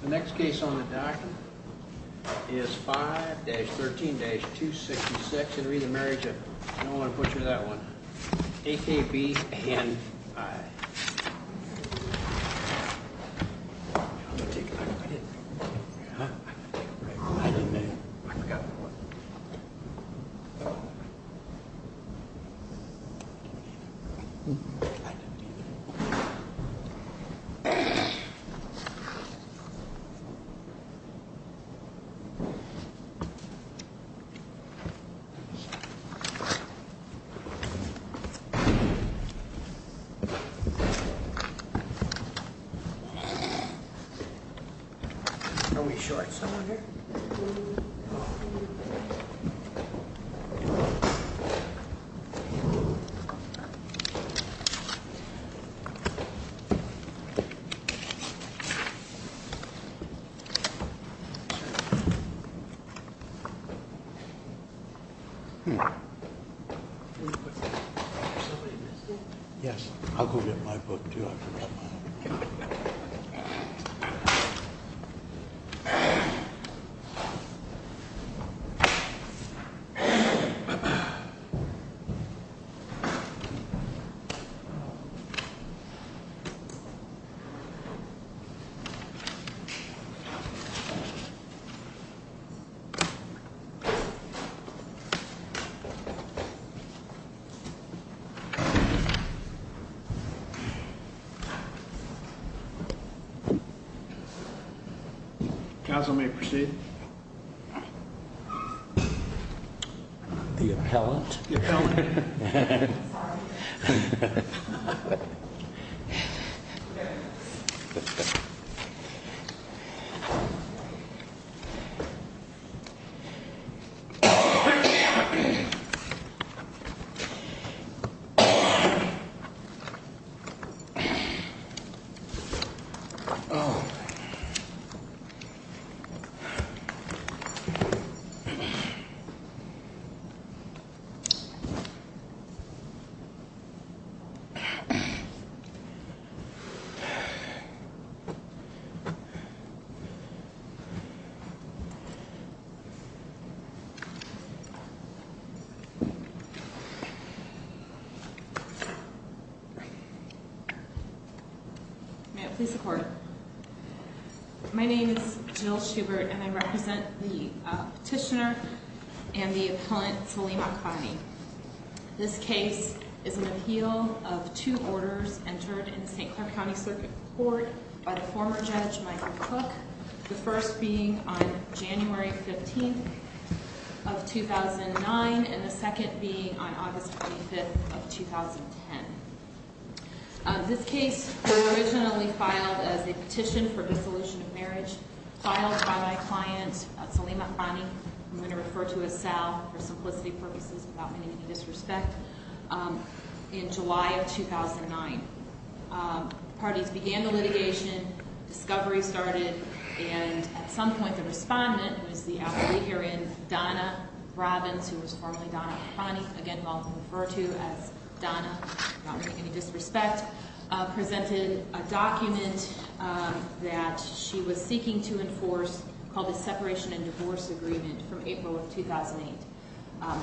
The next case on the docket is 5-13-266 and read the marriage of I don't want to put you to that one akb and I don't want to put you to that one akb and I Yes, I'll go get my book Council may proceed The appellant Jill Hubert the petitioner and the appellant Salim Akhani. This case is an appeal of two orders entered in the St. Clair County Circuit Court by the former judge Michael Cook, the first being on January 15th of 2009 and the second being on August 25th of 2010. This case was originally filed as a petition for dissolution of marriage, filed by my client Salim Akhani, I'm going to refer to him as Sal for simplicity purposes without any disrespect, in July of 2009. Parties began the litigation, discovery started and at some point the respondent was the appellate herein Donna Robbins, who was formerly Donna Akhani, again well referred to as Donna, without making any disrespect, presented a document that she was seeking to enforce called the Separation and Divorce Agreement from April of 2008.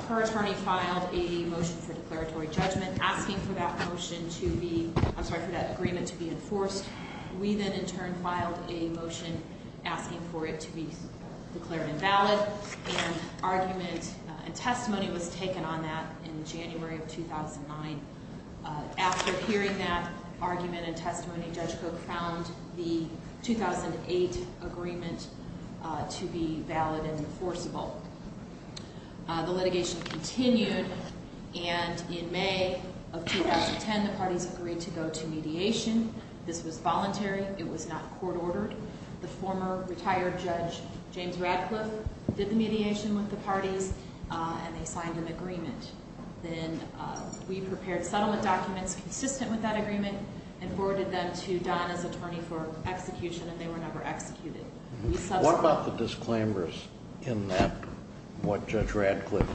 Her attorney filed a motion for declaratory judgment asking for that agreement to be enforced. We then in turn filed a motion asking for it to be declared invalid and argument and testimony was taken on that in January of 2009. After hearing that argument and testimony, Judge Cook found the 2008 agreement to be valid and enforceable. The litigation continued and in May of 2010, the parties agreed to go to mediation. This was voluntary, it was not court ordered. The former retired judge James Radcliffe did the mediation with the parties and they signed an agreement. Then we prepared settlement documents consistent with that agreement and forwarded them to Donna's attorney for execution and they were never executed. What about the disclaimers in that, what Judge Radcliffe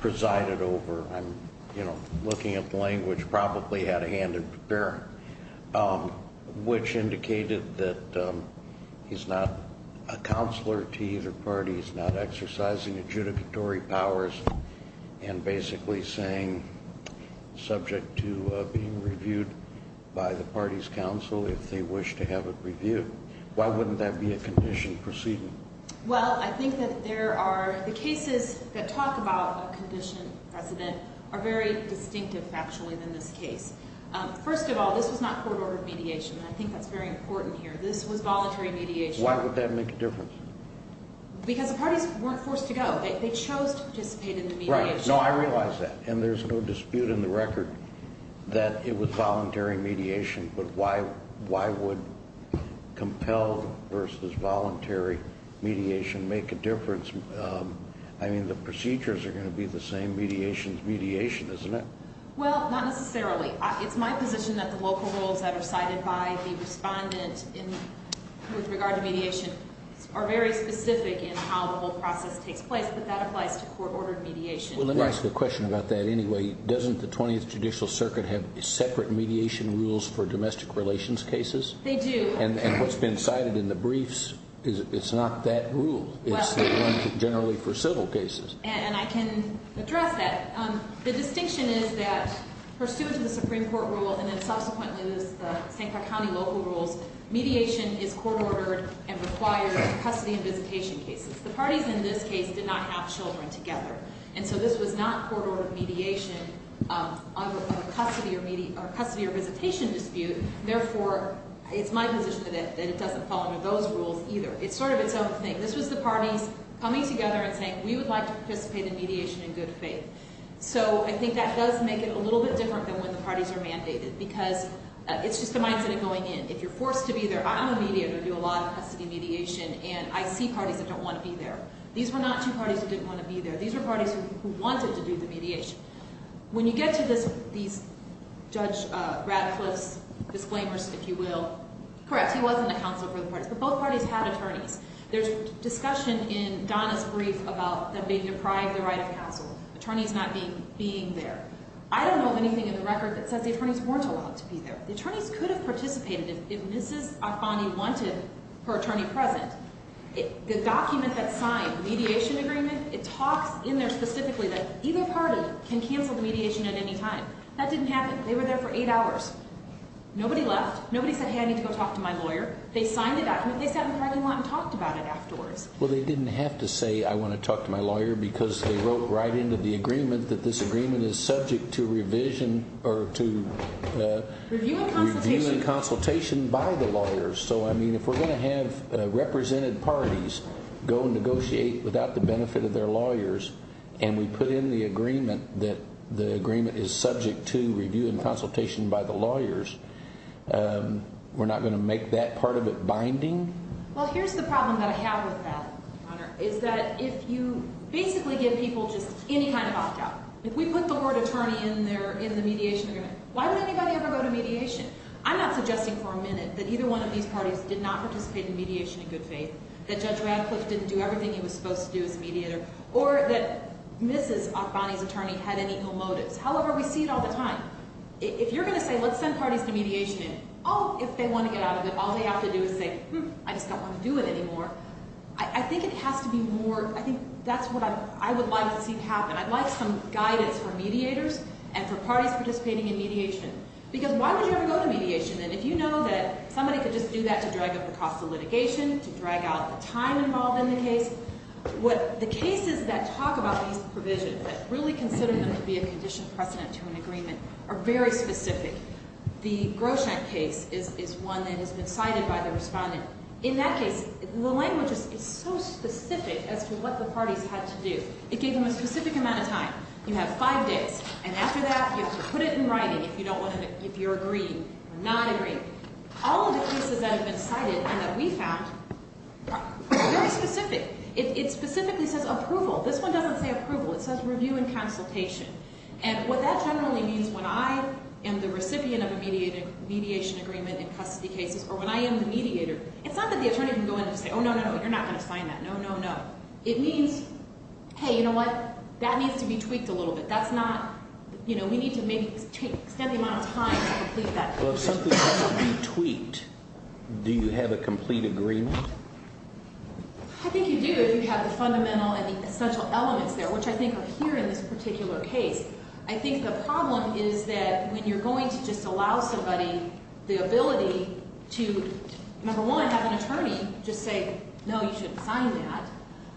presided over, I'm, you know, looking at the language, probably had a hand in preparing, which indicated that he's not a counselor to either parties, not exercising adjudicatory powers and basically saying subject to being reviewed by the party's counsel if they wish to have it reviewed. Why wouldn't that be a condition proceeding? Well, I think that there are, the cases that talk about a condition precedent are very distinctive actually in this case. First of all, this was not court ordered mediation and I think that's very important here. This was voluntary mediation. Why would that make a difference? Because the parties weren't forced to go. They chose to participate in the mediation. Right. No, I realize that and there's no dispute in the record that it was voluntary mediation but why would compelled versus voluntary mediation make a difference? I mean, the procedures are going to be the same mediation as mediation, isn't it? Well, not necessarily. It's my position that the local rules that are cited by the respondent with regard to mediation are very specific in how the whole process takes place but that applies to court ordered mediation. Well, let me ask you a question about that anyway. Doesn't the 20th Judicial Circuit have separate mediation rules for domestic relations cases? They do. And what's been cited in the briefs, it's not that rule. It's the one generally for civil cases. And I can address that. The distinction is that pursuant to the Supreme Court rule and then subsequently the St. Clark County local rules, mediation is court ordered and required in custody and visitation cases. The parties in this case did not have children together and so this was not court ordered mediation under custody or visitation dispute. Therefore, it's my position that it doesn't fall under those rules either. It's sort of its own thing. This was the parties coming together and saying we would like to participate in mediation in good faith. So I think that does make it a little bit different than when the parties are mandated because it's just a mindset of going in. If you're forced to be there, I'm a mediator. I do a lot of custody mediation and I see parties that don't want to be there. These were not two parties that didn't want to be there. These were parties who wanted to do the mediation. When you get to these Judge Ratcliffe's disclaimers, if you will, correct, he wasn't a counsel for the parties but both parties had attorneys. There's discussion in Donna's brief about them being deprived the right of counsel, attorneys not being there. I don't know of anything in the record that says the attorneys weren't allowed to be there. The attorneys could have participated if Mrs. Afani wanted her attorney present. The document that signed, mediation agreement, it talks in there specifically that either party can cancel the mediation at any time. That didn't happen. They were there for eight hours. Nobody left. Nobody said, hey, I need to go talk to my lawyer. They signed the document. They sat in the parliament and talked about it afterwards. Well, they didn't have to say, I want to talk to my lawyer because they wrote right into the agreement that this agreement is subject to revision or to review and consultation by the lawyers. So, I mean, if we're going to have represented parties go negotiate without the benefit of their lawyers and we put in the agreement that the agreement is subject to review and part of it binding? Well, here's the problem that I have with that, Your Honor, is that if you basically give people just any kind of opt-out, if we put the word attorney in there in the mediation agreement, why would anybody ever go to mediation? I'm not suggesting for a minute that either one of these parties did not participate in mediation in good faith, that Judge Radcliffe didn't do everything he was supposed to do as a mediator, or that Mrs. Afani's attorney had any ill motives. However, we see it all the time. If you're going to say, let's send parties to mediation, oh, if they want to get out of it, all they have to do is say, hmm, I just don't want to do it anymore. I think it has to be more, I think that's what I would like to see happen. I'd like some guidance for mediators and for parties participating in mediation. Because why would you ever go to mediation then if you know that somebody could just do that to drag up the cost of litigation, to drag out the time involved in the case? The cases that talk about these provisions, that really consider them to be a condition precedent to an agreement, are very specific. The Groschenk case is one that has been cited by the respondent. In that case, the language is so specific as to what the parties had to do. It gave them a specific amount of time. You have five days. And after that, you have to put it in writing if you're agreeing or not agreeing. All of the cases that have been cited and that we found are very specific. It specifically says approval. This one doesn't say approval. It says review and consultation. And what that generally means when I am the recipient of a mediation agreement in custody cases or when I am the mediator, it's not that the attorney can go in and say, oh, no, no, no, you're not going to sign that. No, no, no. It means, hey, you know what? That needs to be tweaked a little bit. That's not, you know, we need to maybe extend the amount of time to complete that. Well, if something doesn't need to be tweaked, do you have a complete agreement? I think you do if you have the fundamental and the essential elements there, which I think are here in this particular case. I think the problem is that when you're going to just allow somebody the ability to, number one, have an attorney just say, no, you shouldn't sign that.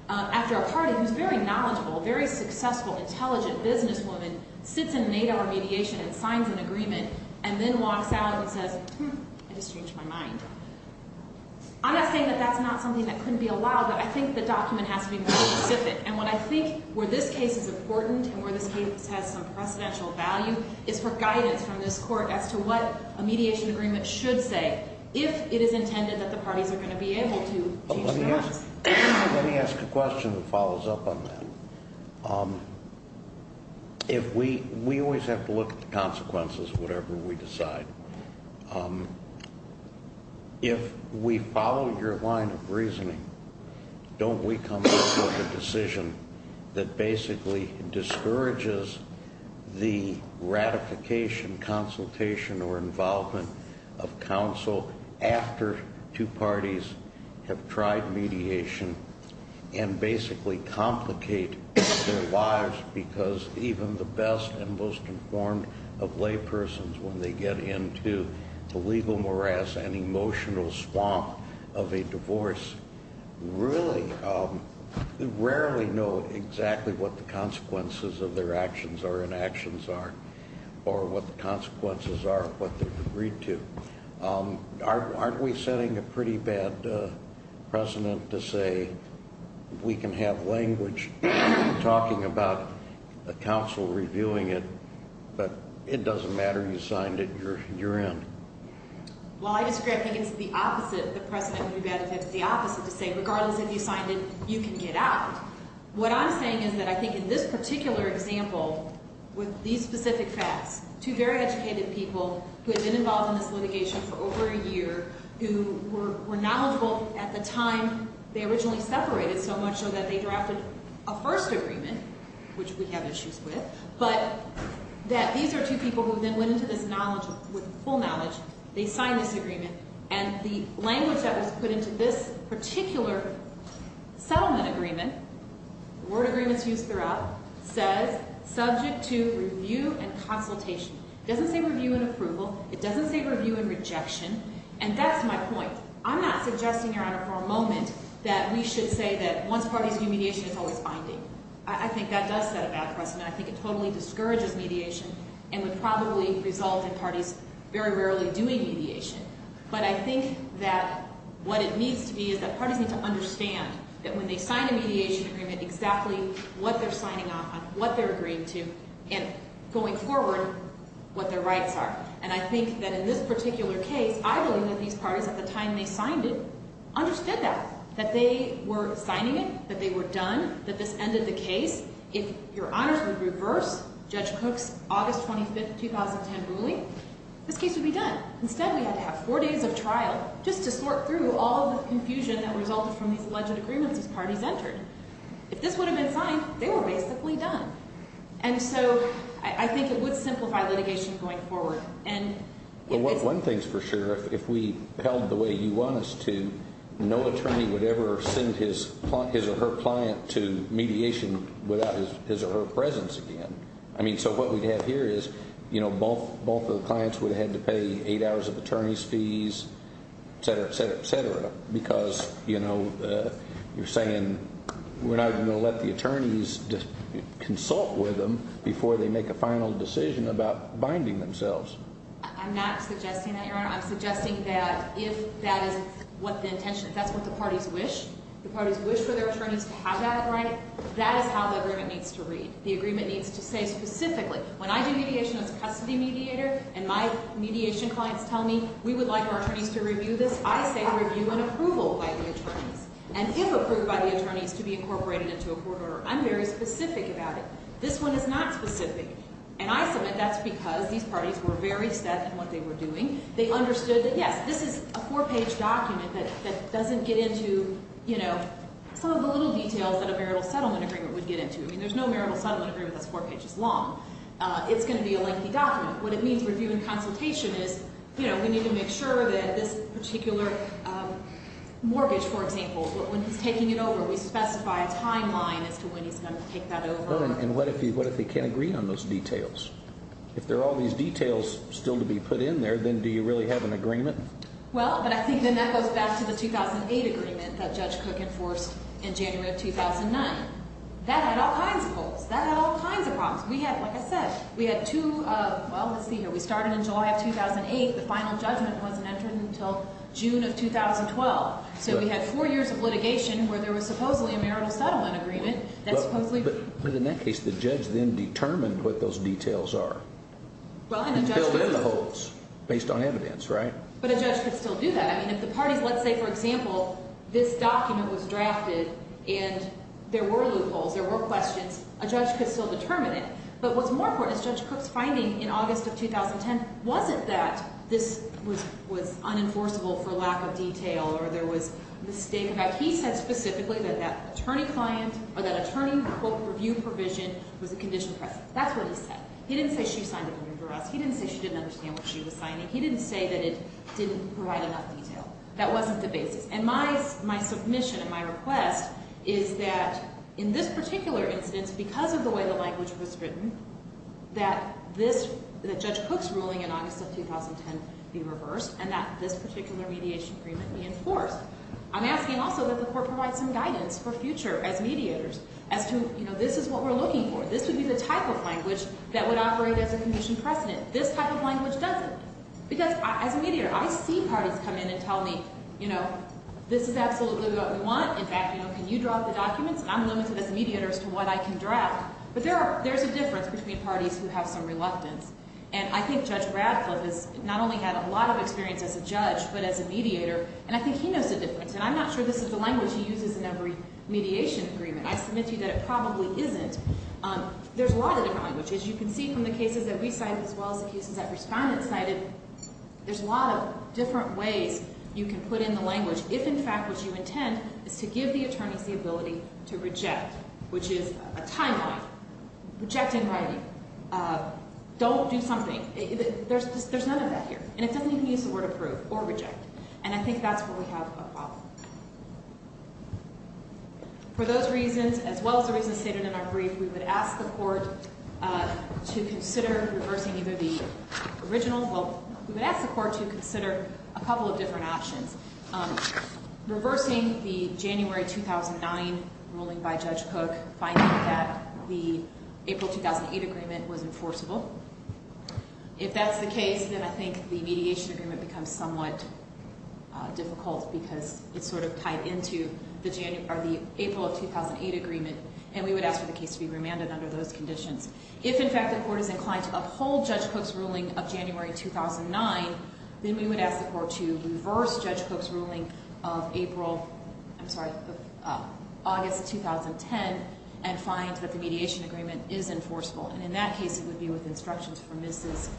After a party who's very knowledgeable, very successful, intelligent businesswoman sits in an eight-hour mediation and signs an agreement and then walks out and says, hmm, I just changed my mind. I'm not saying that that's not something that couldn't be allowed, but I think the document has to be more specific. And what I think where this case is important and where this case has some precedential value is for guidance from this court as to what a mediation agreement should say if it is intended that the parties are going to be able to change their minds. Let me ask a question that follows up on that. We always have to look at the consequences of whatever we decide. If we follow your line of reasoning, don't we come to a decision that basically discourages the ratification, consultation, or involvement of counsel after two parties have tried mediation and basically complicate their lives because even the best and most informed of laypersons, when they get into the legal morass and emotional swamp of a divorce, really rarely know exactly what the consequences of their actions or inactions are or what the consequences are of what they've agreed to. Aren't we setting a pretty bad precedent to say we can have language talking about a counsel reviewing it, but it doesn't matter, you signed it, you're in? Well, I disagree. I think it's the opposite. The precedent would be bad if it's the opposite to say regardless if you signed it, you can get out. What I'm saying is that I think in this particular example, with these specific facts, two very educated people who had been involved in this litigation for over a year who were knowledgeable at the time they originally separated so much so that they had issues with, but that these are two people who then went into this knowledge with full knowledge, they signed this agreement, and the language that was put into this particular settlement agreement, the word agreements used throughout, says subject to review and consultation. It doesn't say review and approval, it doesn't say review and rejection, and that's my point. I'm not suggesting, Your Honor, for a moment that we should say that once parties do mediation it's always binding. I think that does set a bad precedent. I think it totally discourages mediation and would probably result in parties very rarely doing mediation. But I think that what it needs to be is that parties need to understand that when they sign a mediation agreement, exactly what they're signing off on, what they're agreeing to, and going forward, what their rights are. And I think that in this particular case, I believe that these parties, at the time they signed it, understood that. That they were signing it, that they were done, that this ended the case. If Your Honors would reverse Judge Cook's August 25, 2010 ruling, this case would be done. Instead, we had to have four days of trial just to sort through all the confusion that resulted from these alleged agreements these parties entered. If this would have been signed, they were basically done. And so I think it would simplify litigation going forward. One thing's for sure. If we held the way you want us to, no attorney would ever send his or her client to mediation without his or her presence again. So what we'd have here is both of the clients would have had to pay eight hours of attorney's fees, et cetera, et cetera, et cetera. Because you're saying we're not going to let the attorneys consult with them before they make a final decision about binding themselves. I'm not suggesting that, Your Honor. I'm suggesting that if that is what the intention, if that's what the parties wish, the parties wish for their attorneys to have that right, that is how the agreement needs to read. The agreement needs to say specifically, when I do mediation as a custody mediator and my mediation clients tell me, we would like our attorneys to review this, I say review and approval by the attorneys. And if approved by the attorneys to be incorporated into a court order. I'm very specific about it. This one is not specific. And I submit that's because these parties were very set in what they were doing. They understood that, yes, this is a four-page document that doesn't get into, you know, some of the little details that a marital settlement agreement would get into. I mean, there's no marital settlement agreement that's four pages long. It's going to be a lengthy document. What it means, review and consultation, is, you know, we need to make sure that this particular mortgage, for example, when he's taking it over, we specify a timeline as to when he's going to take that over. And what if he can't agree on those details? If there are all these details still to be put in there, then do you really have an agreement? Well, but I think then that goes back to the 2008 agreement that Judge Cook enforced in January of 2009. That had all kinds of holes. That had all kinds of problems. We had, like I said, we had two, well, let's see here, we started in July of 2008, the final judgment wasn't entered until June of 2012. So we had four years of litigation where there was supposedly a marital settlement agreement that supposedly... But in that case, the judge then determined what those details are. And filled in the holes, based on evidence, right? But a judge could still do that. I mean, if the parties, let's say, for example, this document was drafted and there were loopholes, there were questions, a judge could still determine it. But what's more important is Judge Cook's finding in August of 2010 wasn't that this was unenforceable for lack of detail, or there was a mistake. In fact, he said specifically that that attorney client, or that attorney quote, review provision was a condition present. That's what he said. He didn't say she signed it for us. He didn't say she didn't understand what she was signing. He didn't say that it didn't provide enough detail. That wasn't the basis. And my submission and my request is that in this particular instance, because of the way the language was written, that this, that Judge Cook's ruling in August of 2010 be reversed and that this particular mediation agreement be enforced. I'm asking also that the Court provide some guidance for future, as mediators, as to this is what we're looking for. This would be the type of language that would operate as a condition precedent. This type of language doesn't. Because as a mediator, I see parties come in and tell me this is absolutely what we want. In fact, can you draw up the documents? I'm limited as a mediator as to what I can draft. But there's a difference between parties who have some reluctance. And I think Judge Radcliffe has not only had a lot of experience as a judge, but as a mediator, and I think he knows the difference. And I'm not sure this is the language he uses in every mediation agreement. I submit to you that it probably isn't. There's a lot of different languages. You can see from the cases that we cited as well as the cases that respondents cited, there's a lot of different ways you can put in the language, if in fact what you intend is to give the attorneys the ability to reject, which is a timeline. Reject in writing. Don't do something. There's none of that here. And it doesn't even use the word approve or reject. And I think that's where we have a problem. For those reasons, as well as the reasons stated in our brief, we would ask the court to consider reversing either the original well, we would ask the court to consider a couple of different options. Reversing the January 2009 ruling by Judge Cook, finding that the April 2008 agreement was enforceable. If that's the case, then I think the mediation agreement becomes somewhat difficult because it's sort of tied into the April of 2008 agreement, and we would ask for the case to be remanded under those conditions. If in fact the court is inclined to uphold Judge Cook's ruling of January 2009, then we would ask the court to reverse Judge Cook's ruling of April, I'm sorry, August 2010 and find that the mediation agreement is enforceable. And in that case, it would be with instructions from Mrs.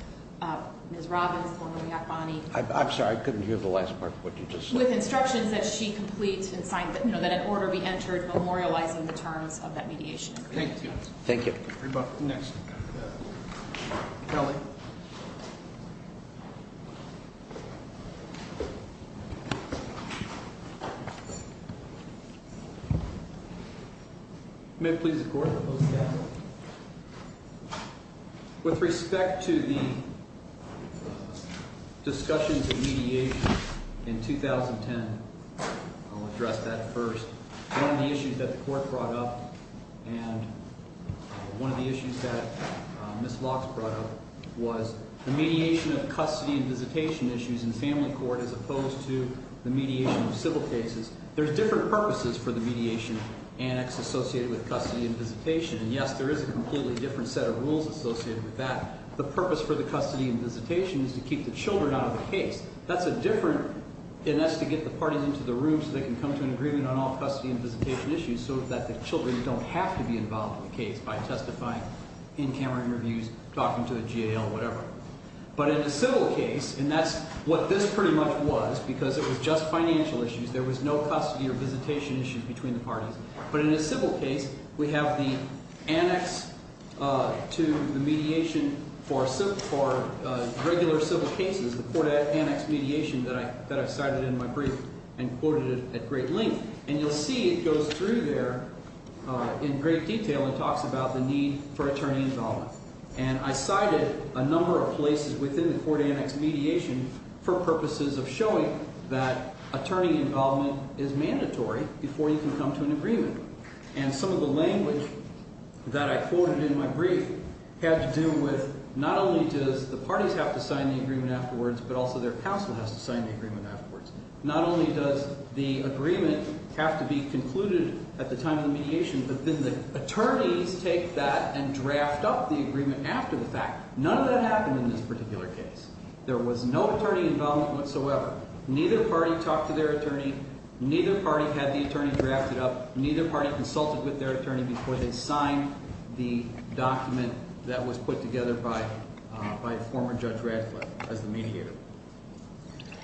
Ms. Robbins, formerly Akbani. I'm sorry, I couldn't hear the last part of what you just said. With instructions that she complete and sign that an order be entered memorializing the terms of that mediation agreement. Thank you. Next. Kelly. May it please the court. With respect to the discussions of mediation in 2010, I'll address that first. One of the issues that the court brought up and one of the issues that Ms. Lox brought up was the mediation of custody and visitation issues in family court as opposed to the mediation of civil cases. There's different purposes for the custody and visitation. And yes, there is a completely different set of rules associated with that. The purpose for the custody and visitation is to keep the children out of the case. That's a different, and that's to get the parties into the room so they can come to an agreement on all custody and visitation issues so that the children don't have to be involved in the case by testifying, in-camera interviews, talking to the GAO, whatever. But in a civil case, and that's what this pretty much was because it was just financial issues. There was no custody or visitation issues between the parties. But in a civil case, we have the annex to the mediation for regular civil cases, the court-annexed mediation that I cited in my brief and quoted it at great length. And you'll see it goes through there in great detail and talks about the need for attorney involvement. And I cited a number of places within the court-annexed mediation for purposes of showing that attorney involvement is mandatory before you can come to an agreement. And some of the language that I quoted in my brief had to do with not only does the parties have to sign the agreement afterwards, but also their counsel has to sign the agreement afterwards. Not only does the agreement have to be concluded at the time of the mediation, but then the attorneys take that and draft up the agreement after the fact. None of that happened in this particular case. There was no attorney involvement whatsoever. Neither party talked to their attorney, neither party had the attorney drafted up, neither party consulted with their attorney before they signed the document that was put together by former Judge Radcliffe as the mediator.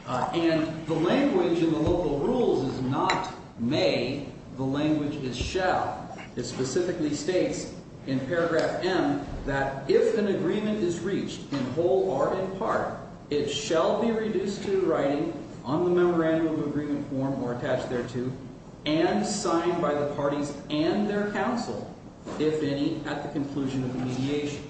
And the language in the local rules is not may, the language is shall. It specifically states in paragraph M that if an agreement is reached in whole or in part, it shall be reduced to writing on the memorandum of agreement form or attached thereto, and signed by the parties and their counsel, if any, at the conclusion of the mediation.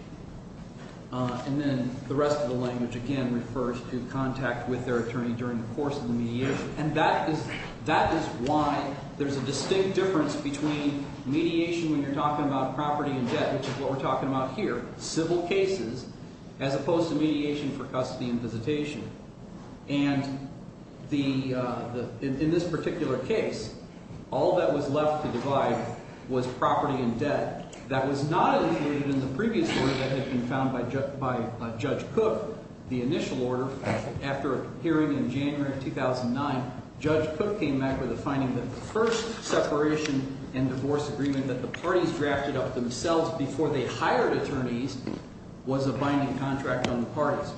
And then the rest of the language again refers to contact with their attorney during the course of the mediation. And that is why there's a distinct difference between mediation when you're talking about property and debt, which is what we're talking about here, civil cases, as opposed to mediation for custody and visitation. And the, in this particular case, all that was left to divide was property and debt. That was not included in the previous order that had been found by Judge Cook. The initial order after a hearing in January of 2009, Judge Cook came back with a finding that the first separation and divorce agreement that the parties drafted up themselves before they signed the binding contract on the parties.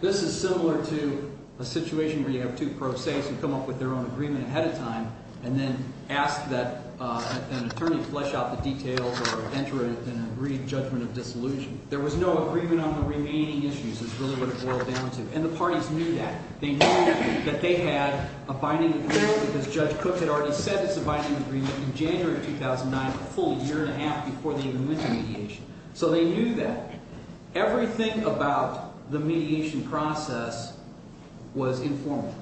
This is similar to a situation where you have two pro se who come up with their own agreement ahead of time and then ask that an attorney flesh out the details or enter it in an agreed judgment of dissolution. There was no agreement on the remaining issues is really what it boiled down to. And the parties knew that. They knew that they had a binding agreement because Judge Cook had already said it's a binding agreement in January of 2009, a full year and a half before they even went to mediation. So they knew that. Everything about the mediation process was informal.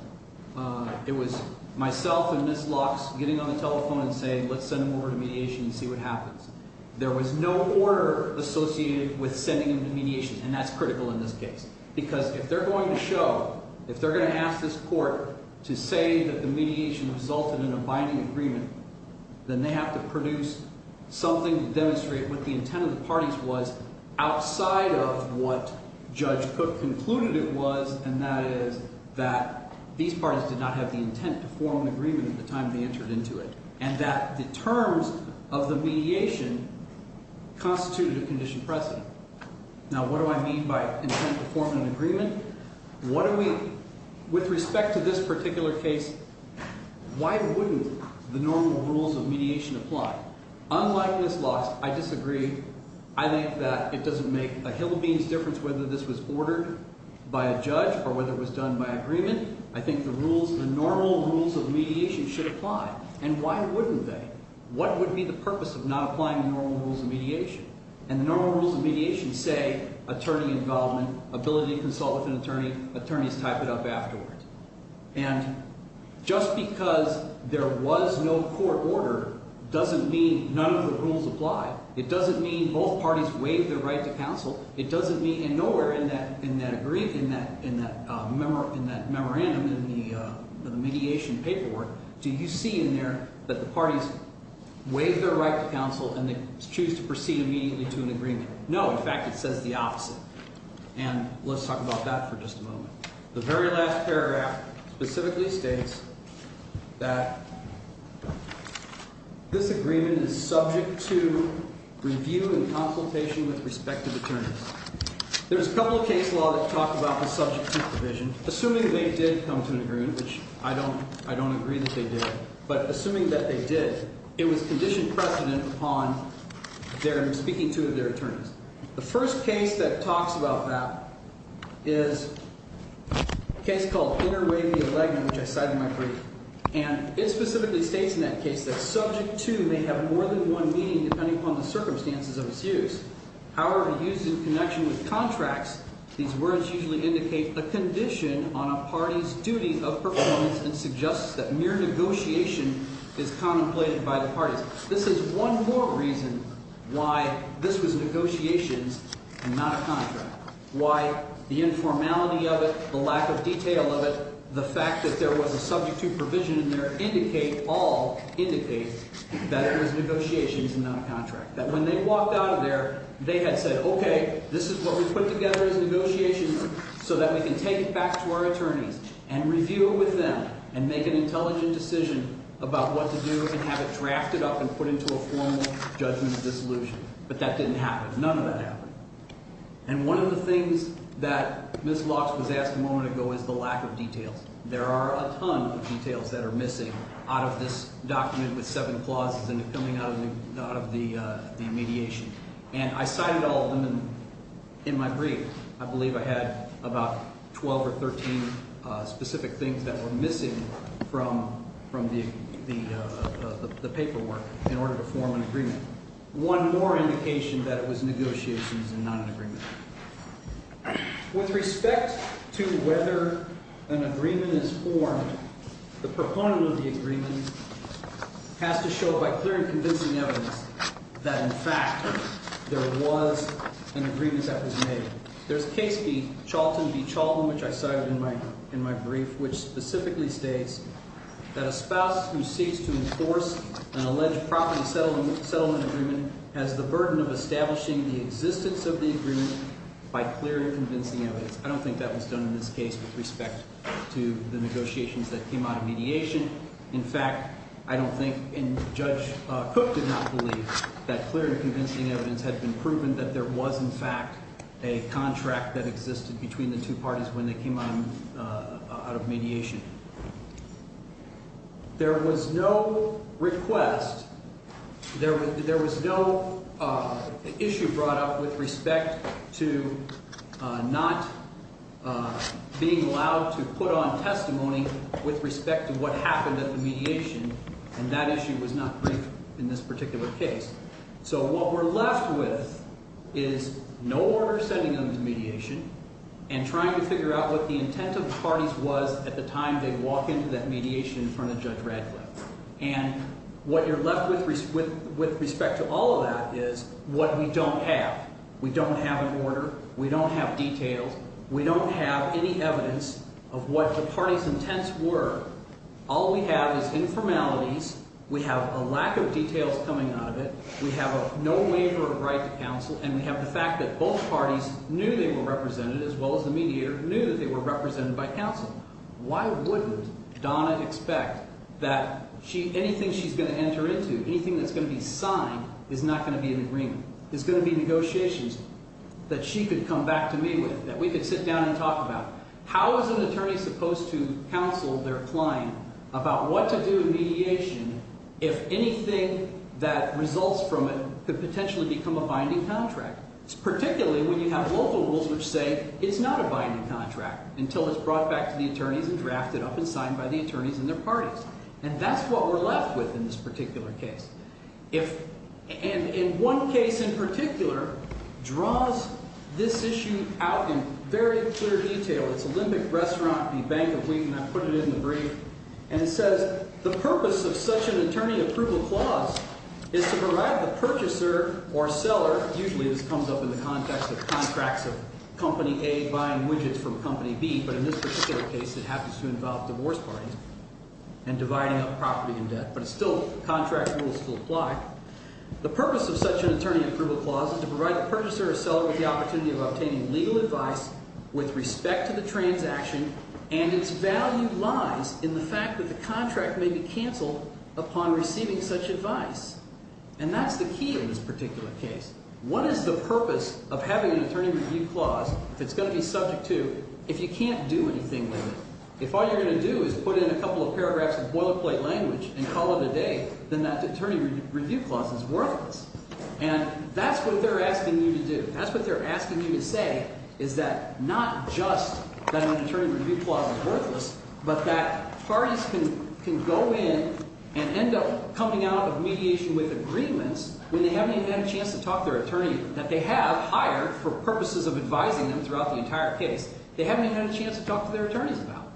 It was myself and Ms. Lux getting on the telephone and saying let's send them over to mediation and see what happens. There was no order associated with sending them to mediation and that's critical in this case because if they're going to show, if they're going to ask this court to say that the mediation resulted in a binding agreement, then they have to produce something to demonstrate what the intent of the parties was outside of what Judge Cook concluded it was and that is that these parties did not have the intent to form an agreement at the time they entered into it and that the terms of the mediation constituted a conditioned precedent. Now what do I mean by intent to form an agreement? What do we, with respect to this particular case, why wouldn't the normal rules of mediation apply? Unlike Ms. Lux, I disagree. I think that it doesn't make a hill of beans difference whether this was ordered by a judge or whether it was done by agreement. I think the rules, the normal rules of mediation should apply and why wouldn't they? What would be the purpose of not applying the normal rules of mediation? And the normal rules of mediation say attorney involvement, ability to consult with an attorney, attorneys type it up afterward. And just because there was no court order doesn't mean none of the rules apply. It doesn't mean both parties waive their right to counsel. It doesn't mean, and nowhere in that agreement, in that memorandum in the mediation paperwork do you see in there that the parties waive their right to counsel and they choose to proceed immediately to an agreement. No, in fact it says the opposite. And let's talk about that for just a moment. The very last paragraph specifically states that this agreement is subject to review and consultation with respective attorneys. There's a couple of case law that talk about the subject to provision. Assuming they did come to an agreement, which I don't agree that they did, but assuming that they did, it was conditioned precedent upon their speaking to their attorneys. The first case that talks about that is a case called Interway v. Allegna, which I cited in my brief. And it specifically states in that case that subject to may have more than one meaning depending upon the circumstances of its use. However, used in connection with contracts, these words usually indicate a condition on a party's duty of performance and suggests that mere negotiation is contemplated by the parties. This is one more reason why this was negotiations and not a contract. Why the informality of it, the lack of detail of it, the fact that there was a subject to provision in there indicate, all indicate, that it was negotiations and not a contract. That when they walked out of there, they had said, okay, this is what we put together as negotiations so that we can take it back to our attorneys and review it with them and make an intelligent decision about what to do and have it drafted up and put into a formal judgment of dissolution. But that didn't happen. None of that happened. And one of the things that Ms. Locks was asked a moment ago is the lack of details. There are a ton of details that are missing out of this document with seven clauses and coming out of the mediation. And I cited all of them in my brief. I believe I had about 12 or 13 specific things that were missing from the paperwork in order to form an agreement. And one more indication that it was negotiations and not an agreement. With respect to whether an agreement is formed, the proponent of the agreement has to show by clear and convincing evidence that in fact there was an agreement that was made. There's case B, Charlton v. Chauvin, which I cited in my brief, which specifically states that a spouse who seeks to enforce an alleged property settlement agreement has the burden of establishing the existence of the agreement by clear and convincing evidence. I don't think that was done in this case with respect to the negotiations that came out of mediation. In fact, I don't think Judge Cook did not believe that clear and convincing evidence had been proven that there was in fact a contract that existed between the two parties when they came out of mediation. There was no request, there was no issue brought up with respect to not being allowed to put on testimony with respect to what happened at the mediation, and that issue was not briefed in this particular case. So what we're left with is no order sending them to mediation and trying to figure out what the intent of the mediation was. And at the time they walk into that mediation in front of Judge Radcliffe. And what you're left with with respect to all of that is what we don't have. We don't have an order, we don't have details, we don't have any evidence of what the parties' intents were. All we have is informalities, we have a lack of details coming out of it, we have no waiver of right to counsel, and we have the fact that both parties knew they were represented, as well as the mediator knew that they were represented by counsel. Why wouldn't Donna expect that anything she's going to enter into, anything that's going to be signed, is not going to be in agreement? There's going to be negotiations that she could come back to me with, that we could sit down and talk about. How is an attorney supposed to to do in mediation if anything that results from it could potentially become a binding contract? Particularly when you have local rules which say it's not a binding contract until it's brought back to the attorneys and drafted up and signed by the attorneys and their parties. And that's what we're left with in this particular case. If, and in one case in particular, draws this issue out in very clear detail, it's Olympic Restaurant v. Bank of Wheaton, I put it in the brief, and it says the purpose of such an attorney approval clause is to provide the usually this comes up in the context of contracts of Company A buying widgets from Company B, but in this particular case it happens to involve divorce parties and dividing up property and debt. But it's still, contract rules still apply. The purpose of such an attorney approval clause is to provide the purchaser or seller with the opportunity of obtaining legal advice with respect to the transaction and its value lies in the fact that the contract may be canceled upon receiving such advice. And that's the key in this particular case. What is the purpose of having an attorney review clause if it's going to be subject to if you can't do anything with it? If all you're going to do is put in a couple of paragraphs of boilerplate language and call it a day, then that attorney review clause is worthless. And that's what they're asking you to do. That's what they're asking you to say, is that not just that an attorney review clause is worthless, but that parties can go in and end up coming out of mediation with agreements when they haven't even had a chance to talk to their attorney that they have hired for purposes of advising them throughout the entire case. They haven't even had a chance to talk to their attorneys about.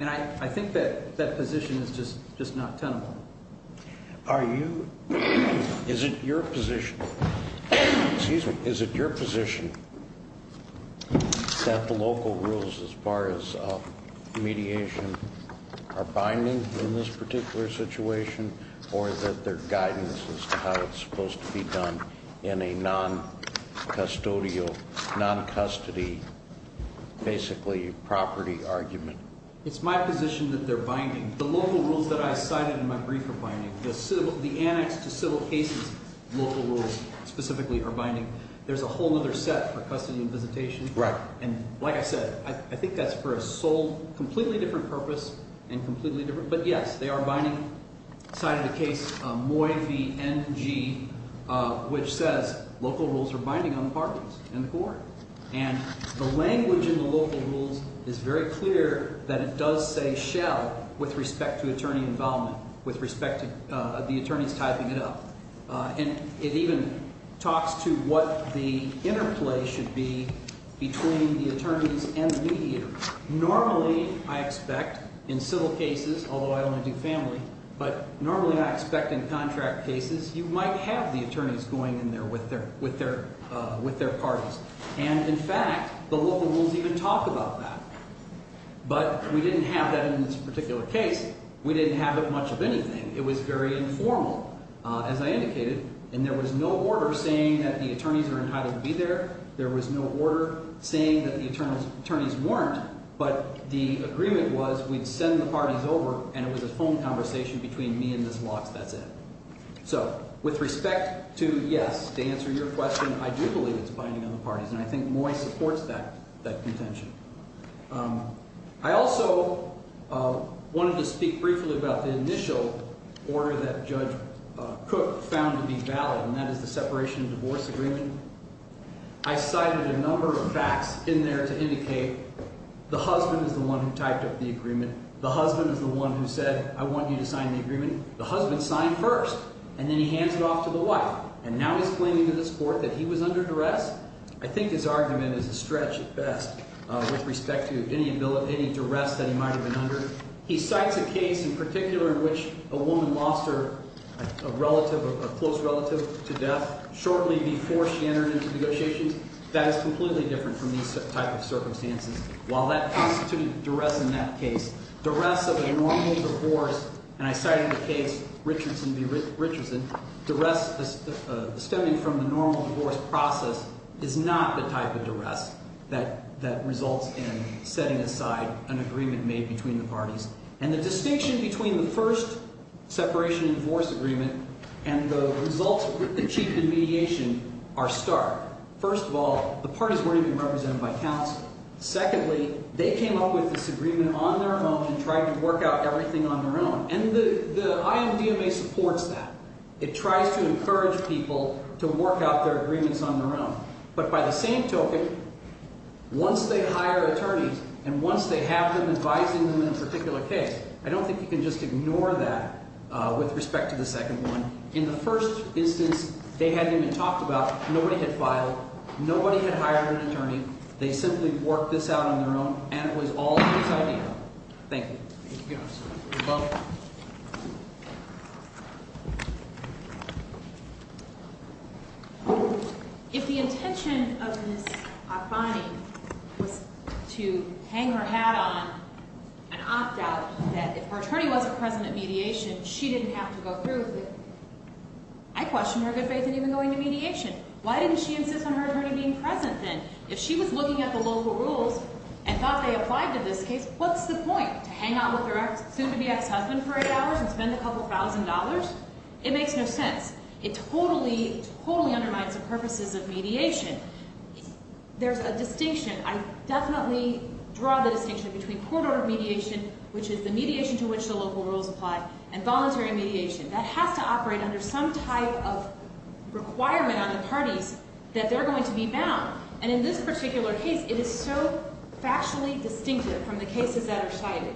And I think that that position is just not tenable. Are you is it your position excuse me, is it your position that the local rules as far as mediation are binding in this particular situation, or that they're guidance as to how it's supposed to be done in a non-custodial non-custody basically property argument? It's my position that they're binding. The local rules that I cited in my brief are binding. The annex to civil cases local rules specifically are binding. There's a whole other set for custody and visitation. Right. And like I said, I think that's for a sole, completely different purpose and completely different. But yes, they are binding. I cited a case of Moy v. NG which says local rules are binding on the parties and the court. And the language in the local rules is very clear that it does say shall with respect to attorney involvement, with respect to the attorneys typing it up. And it even talks to what the interplay should be between the attorneys and the mediator. Normally, I expect in civil cases, although I only do family, but normally I expect in contract cases, you might have the attorneys going in there with their with their parties. And in fact, the local rules even talk about that. But we didn't have that in this particular case. We didn't have it much of anything. It was very informal as I indicated. And there was no order saying that the attorneys were entitled to be there. There was no order saying that the attorneys weren't. But the agreement was we'd send the parties over and it was a phone conversation between me and Ms. Lox, that's it. So, with respect to yes, to answer your question, I do believe it's binding on the parties. And I think Moy supports that contention. I also wanted to speak briefly about the initial order that Judge Cook found to be valid, and that is the separation of divorce agreement. I cited a number of facts in there to indicate the husband is the one who typed up the agreement. The husband is the one who said, I want you to sign the agreement. The husband signed first. And then he hands it off to the wife. And now he's claiming to this court that he was under duress. I think his argument is a stretch at best with respect to any ability, any duress that he might have been under. He cites a case in particular in which a woman lost her relative, a close relative to death shortly before she entered into negotiations. That is completely different from these type of circumstances. While that constitutes duress in that case, duress of a normal divorce, and I cite in the case Richardson v. Richardson, duress stemming from the normal divorce process is not the type of duress that results in setting aside an agreement made between the parties. And the distinction between the first separation of divorce agreement and the results achieved in mediation are stark. First of all, the parties weren't even represented by counsel. Secondly, they came up with this agreement on their own and tried to work out everything on their own. And the IMDMA supports that. It tries to encourage people to work out their agreements on their own. But by the same token, once they hire attorneys, and once they have them advising them in a particular case, I don't think you can just get a second one, in the first instance they hadn't even talked about, nobody had filed, nobody had hired an attorney, they simply worked this out on their own, and it was all in this idea. Thank you. If the intention of Ms. Akbani was to hang her hat on and opt out, that if her attorney wasn't present at mediation, she didn't have to go through with it. I question her good faith in even going to mediation. Why didn't she insist on her attorney being present then? If she was looking at the local rules and thought they applied to this case, what's the point? To hang out with her soon-to-be ex-husband for eight hours and spend a couple thousand dollars? It makes no sense. It totally, totally undermines the purposes of mediation. There's a distinction. I definitely draw the distinction between court-ordered mediation, which is the mediation to which the local rules apply, and voluntary mediation. That has to operate under some type of requirement on the parties that they're going to be bound. And in this particular case, it is so factually distinctive from the cases that are cited.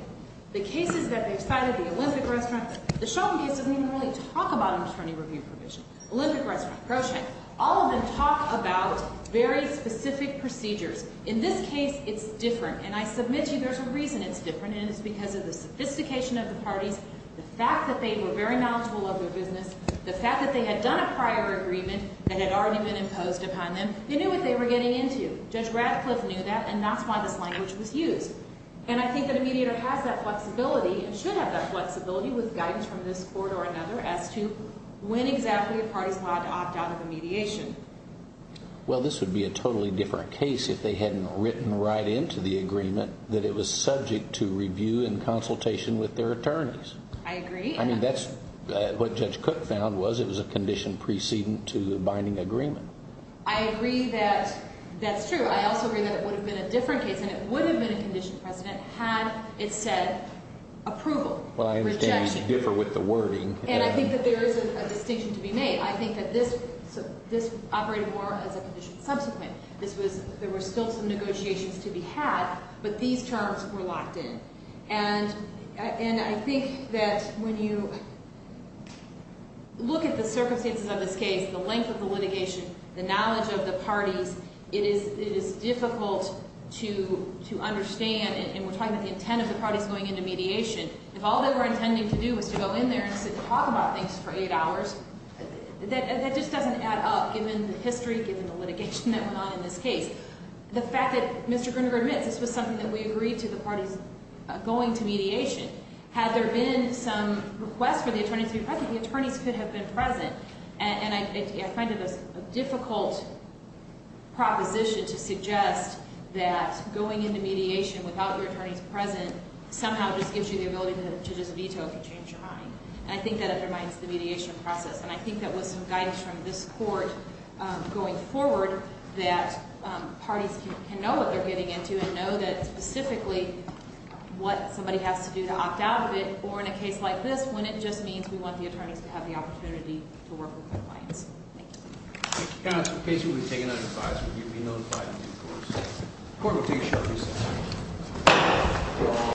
The cases that they've cited, the Olympic Restaurant, the Shulman case doesn't even really talk about attorney review provision. Olympic Restaurant, Procheck, all of them talk about very specific procedures. In this case, it's different. And I submit to you there's a reason it's different, and it's because of the sophistication of the parties, the fact that they were very knowledgeable of their business, the fact that they had done a prior agreement that had already been imposed upon them. They knew what they were getting into. Judge Radcliffe knew that, and that's why this language was used. And I think that a mediator has that flexibility and should have that flexibility with guidance from this court or another as to when exactly a party's allowed to opt out of a mediation. Well, this would be a totally different case if they hadn't written right into the agreement that it was subject to review and consultation with their attorneys. I agree. I mean, that's what Judge Cook found was it was a condition preceding to the binding agreement. I agree that that's true. I also agree that it would have been a different case, and it would have been a condition, President, had it said approval, rejection. Well, I understand you differ with the wording. And I think that there is a distinction to be made. I think that this operated more as a there were still some negotiations to be had, but these terms were locked in. And I think that when you look at the circumstances of this case, the length of the litigation, the knowledge of the parties, it is difficult to understand, and we're talking about the intent of the parties going into mediation. If all they were intending to do was to go in there and sit and talk about things for eight hours, that just doesn't add up given the history, given the fact that Mr. Gruninger admits this was something that we agreed to, the parties going to mediation. Had there been some request for the attorneys to be present, the attorneys could have been present. And I find it a difficult proposition to suggest that going into mediation without your attorneys present somehow just gives you the ability to just veto if you change your mind. And I think that undermines the mediation process. And I think that with some guidance from this Court going forward that parties can know what they're getting into and know that specifically what somebody has to do to opt out of it, or in a case like this, when it just means we want the attorneys to have the opportunity to work with their clients. Thank you. Counsel, in case you would have taken that advice, would you be notified in due course? The Court will take a short recess.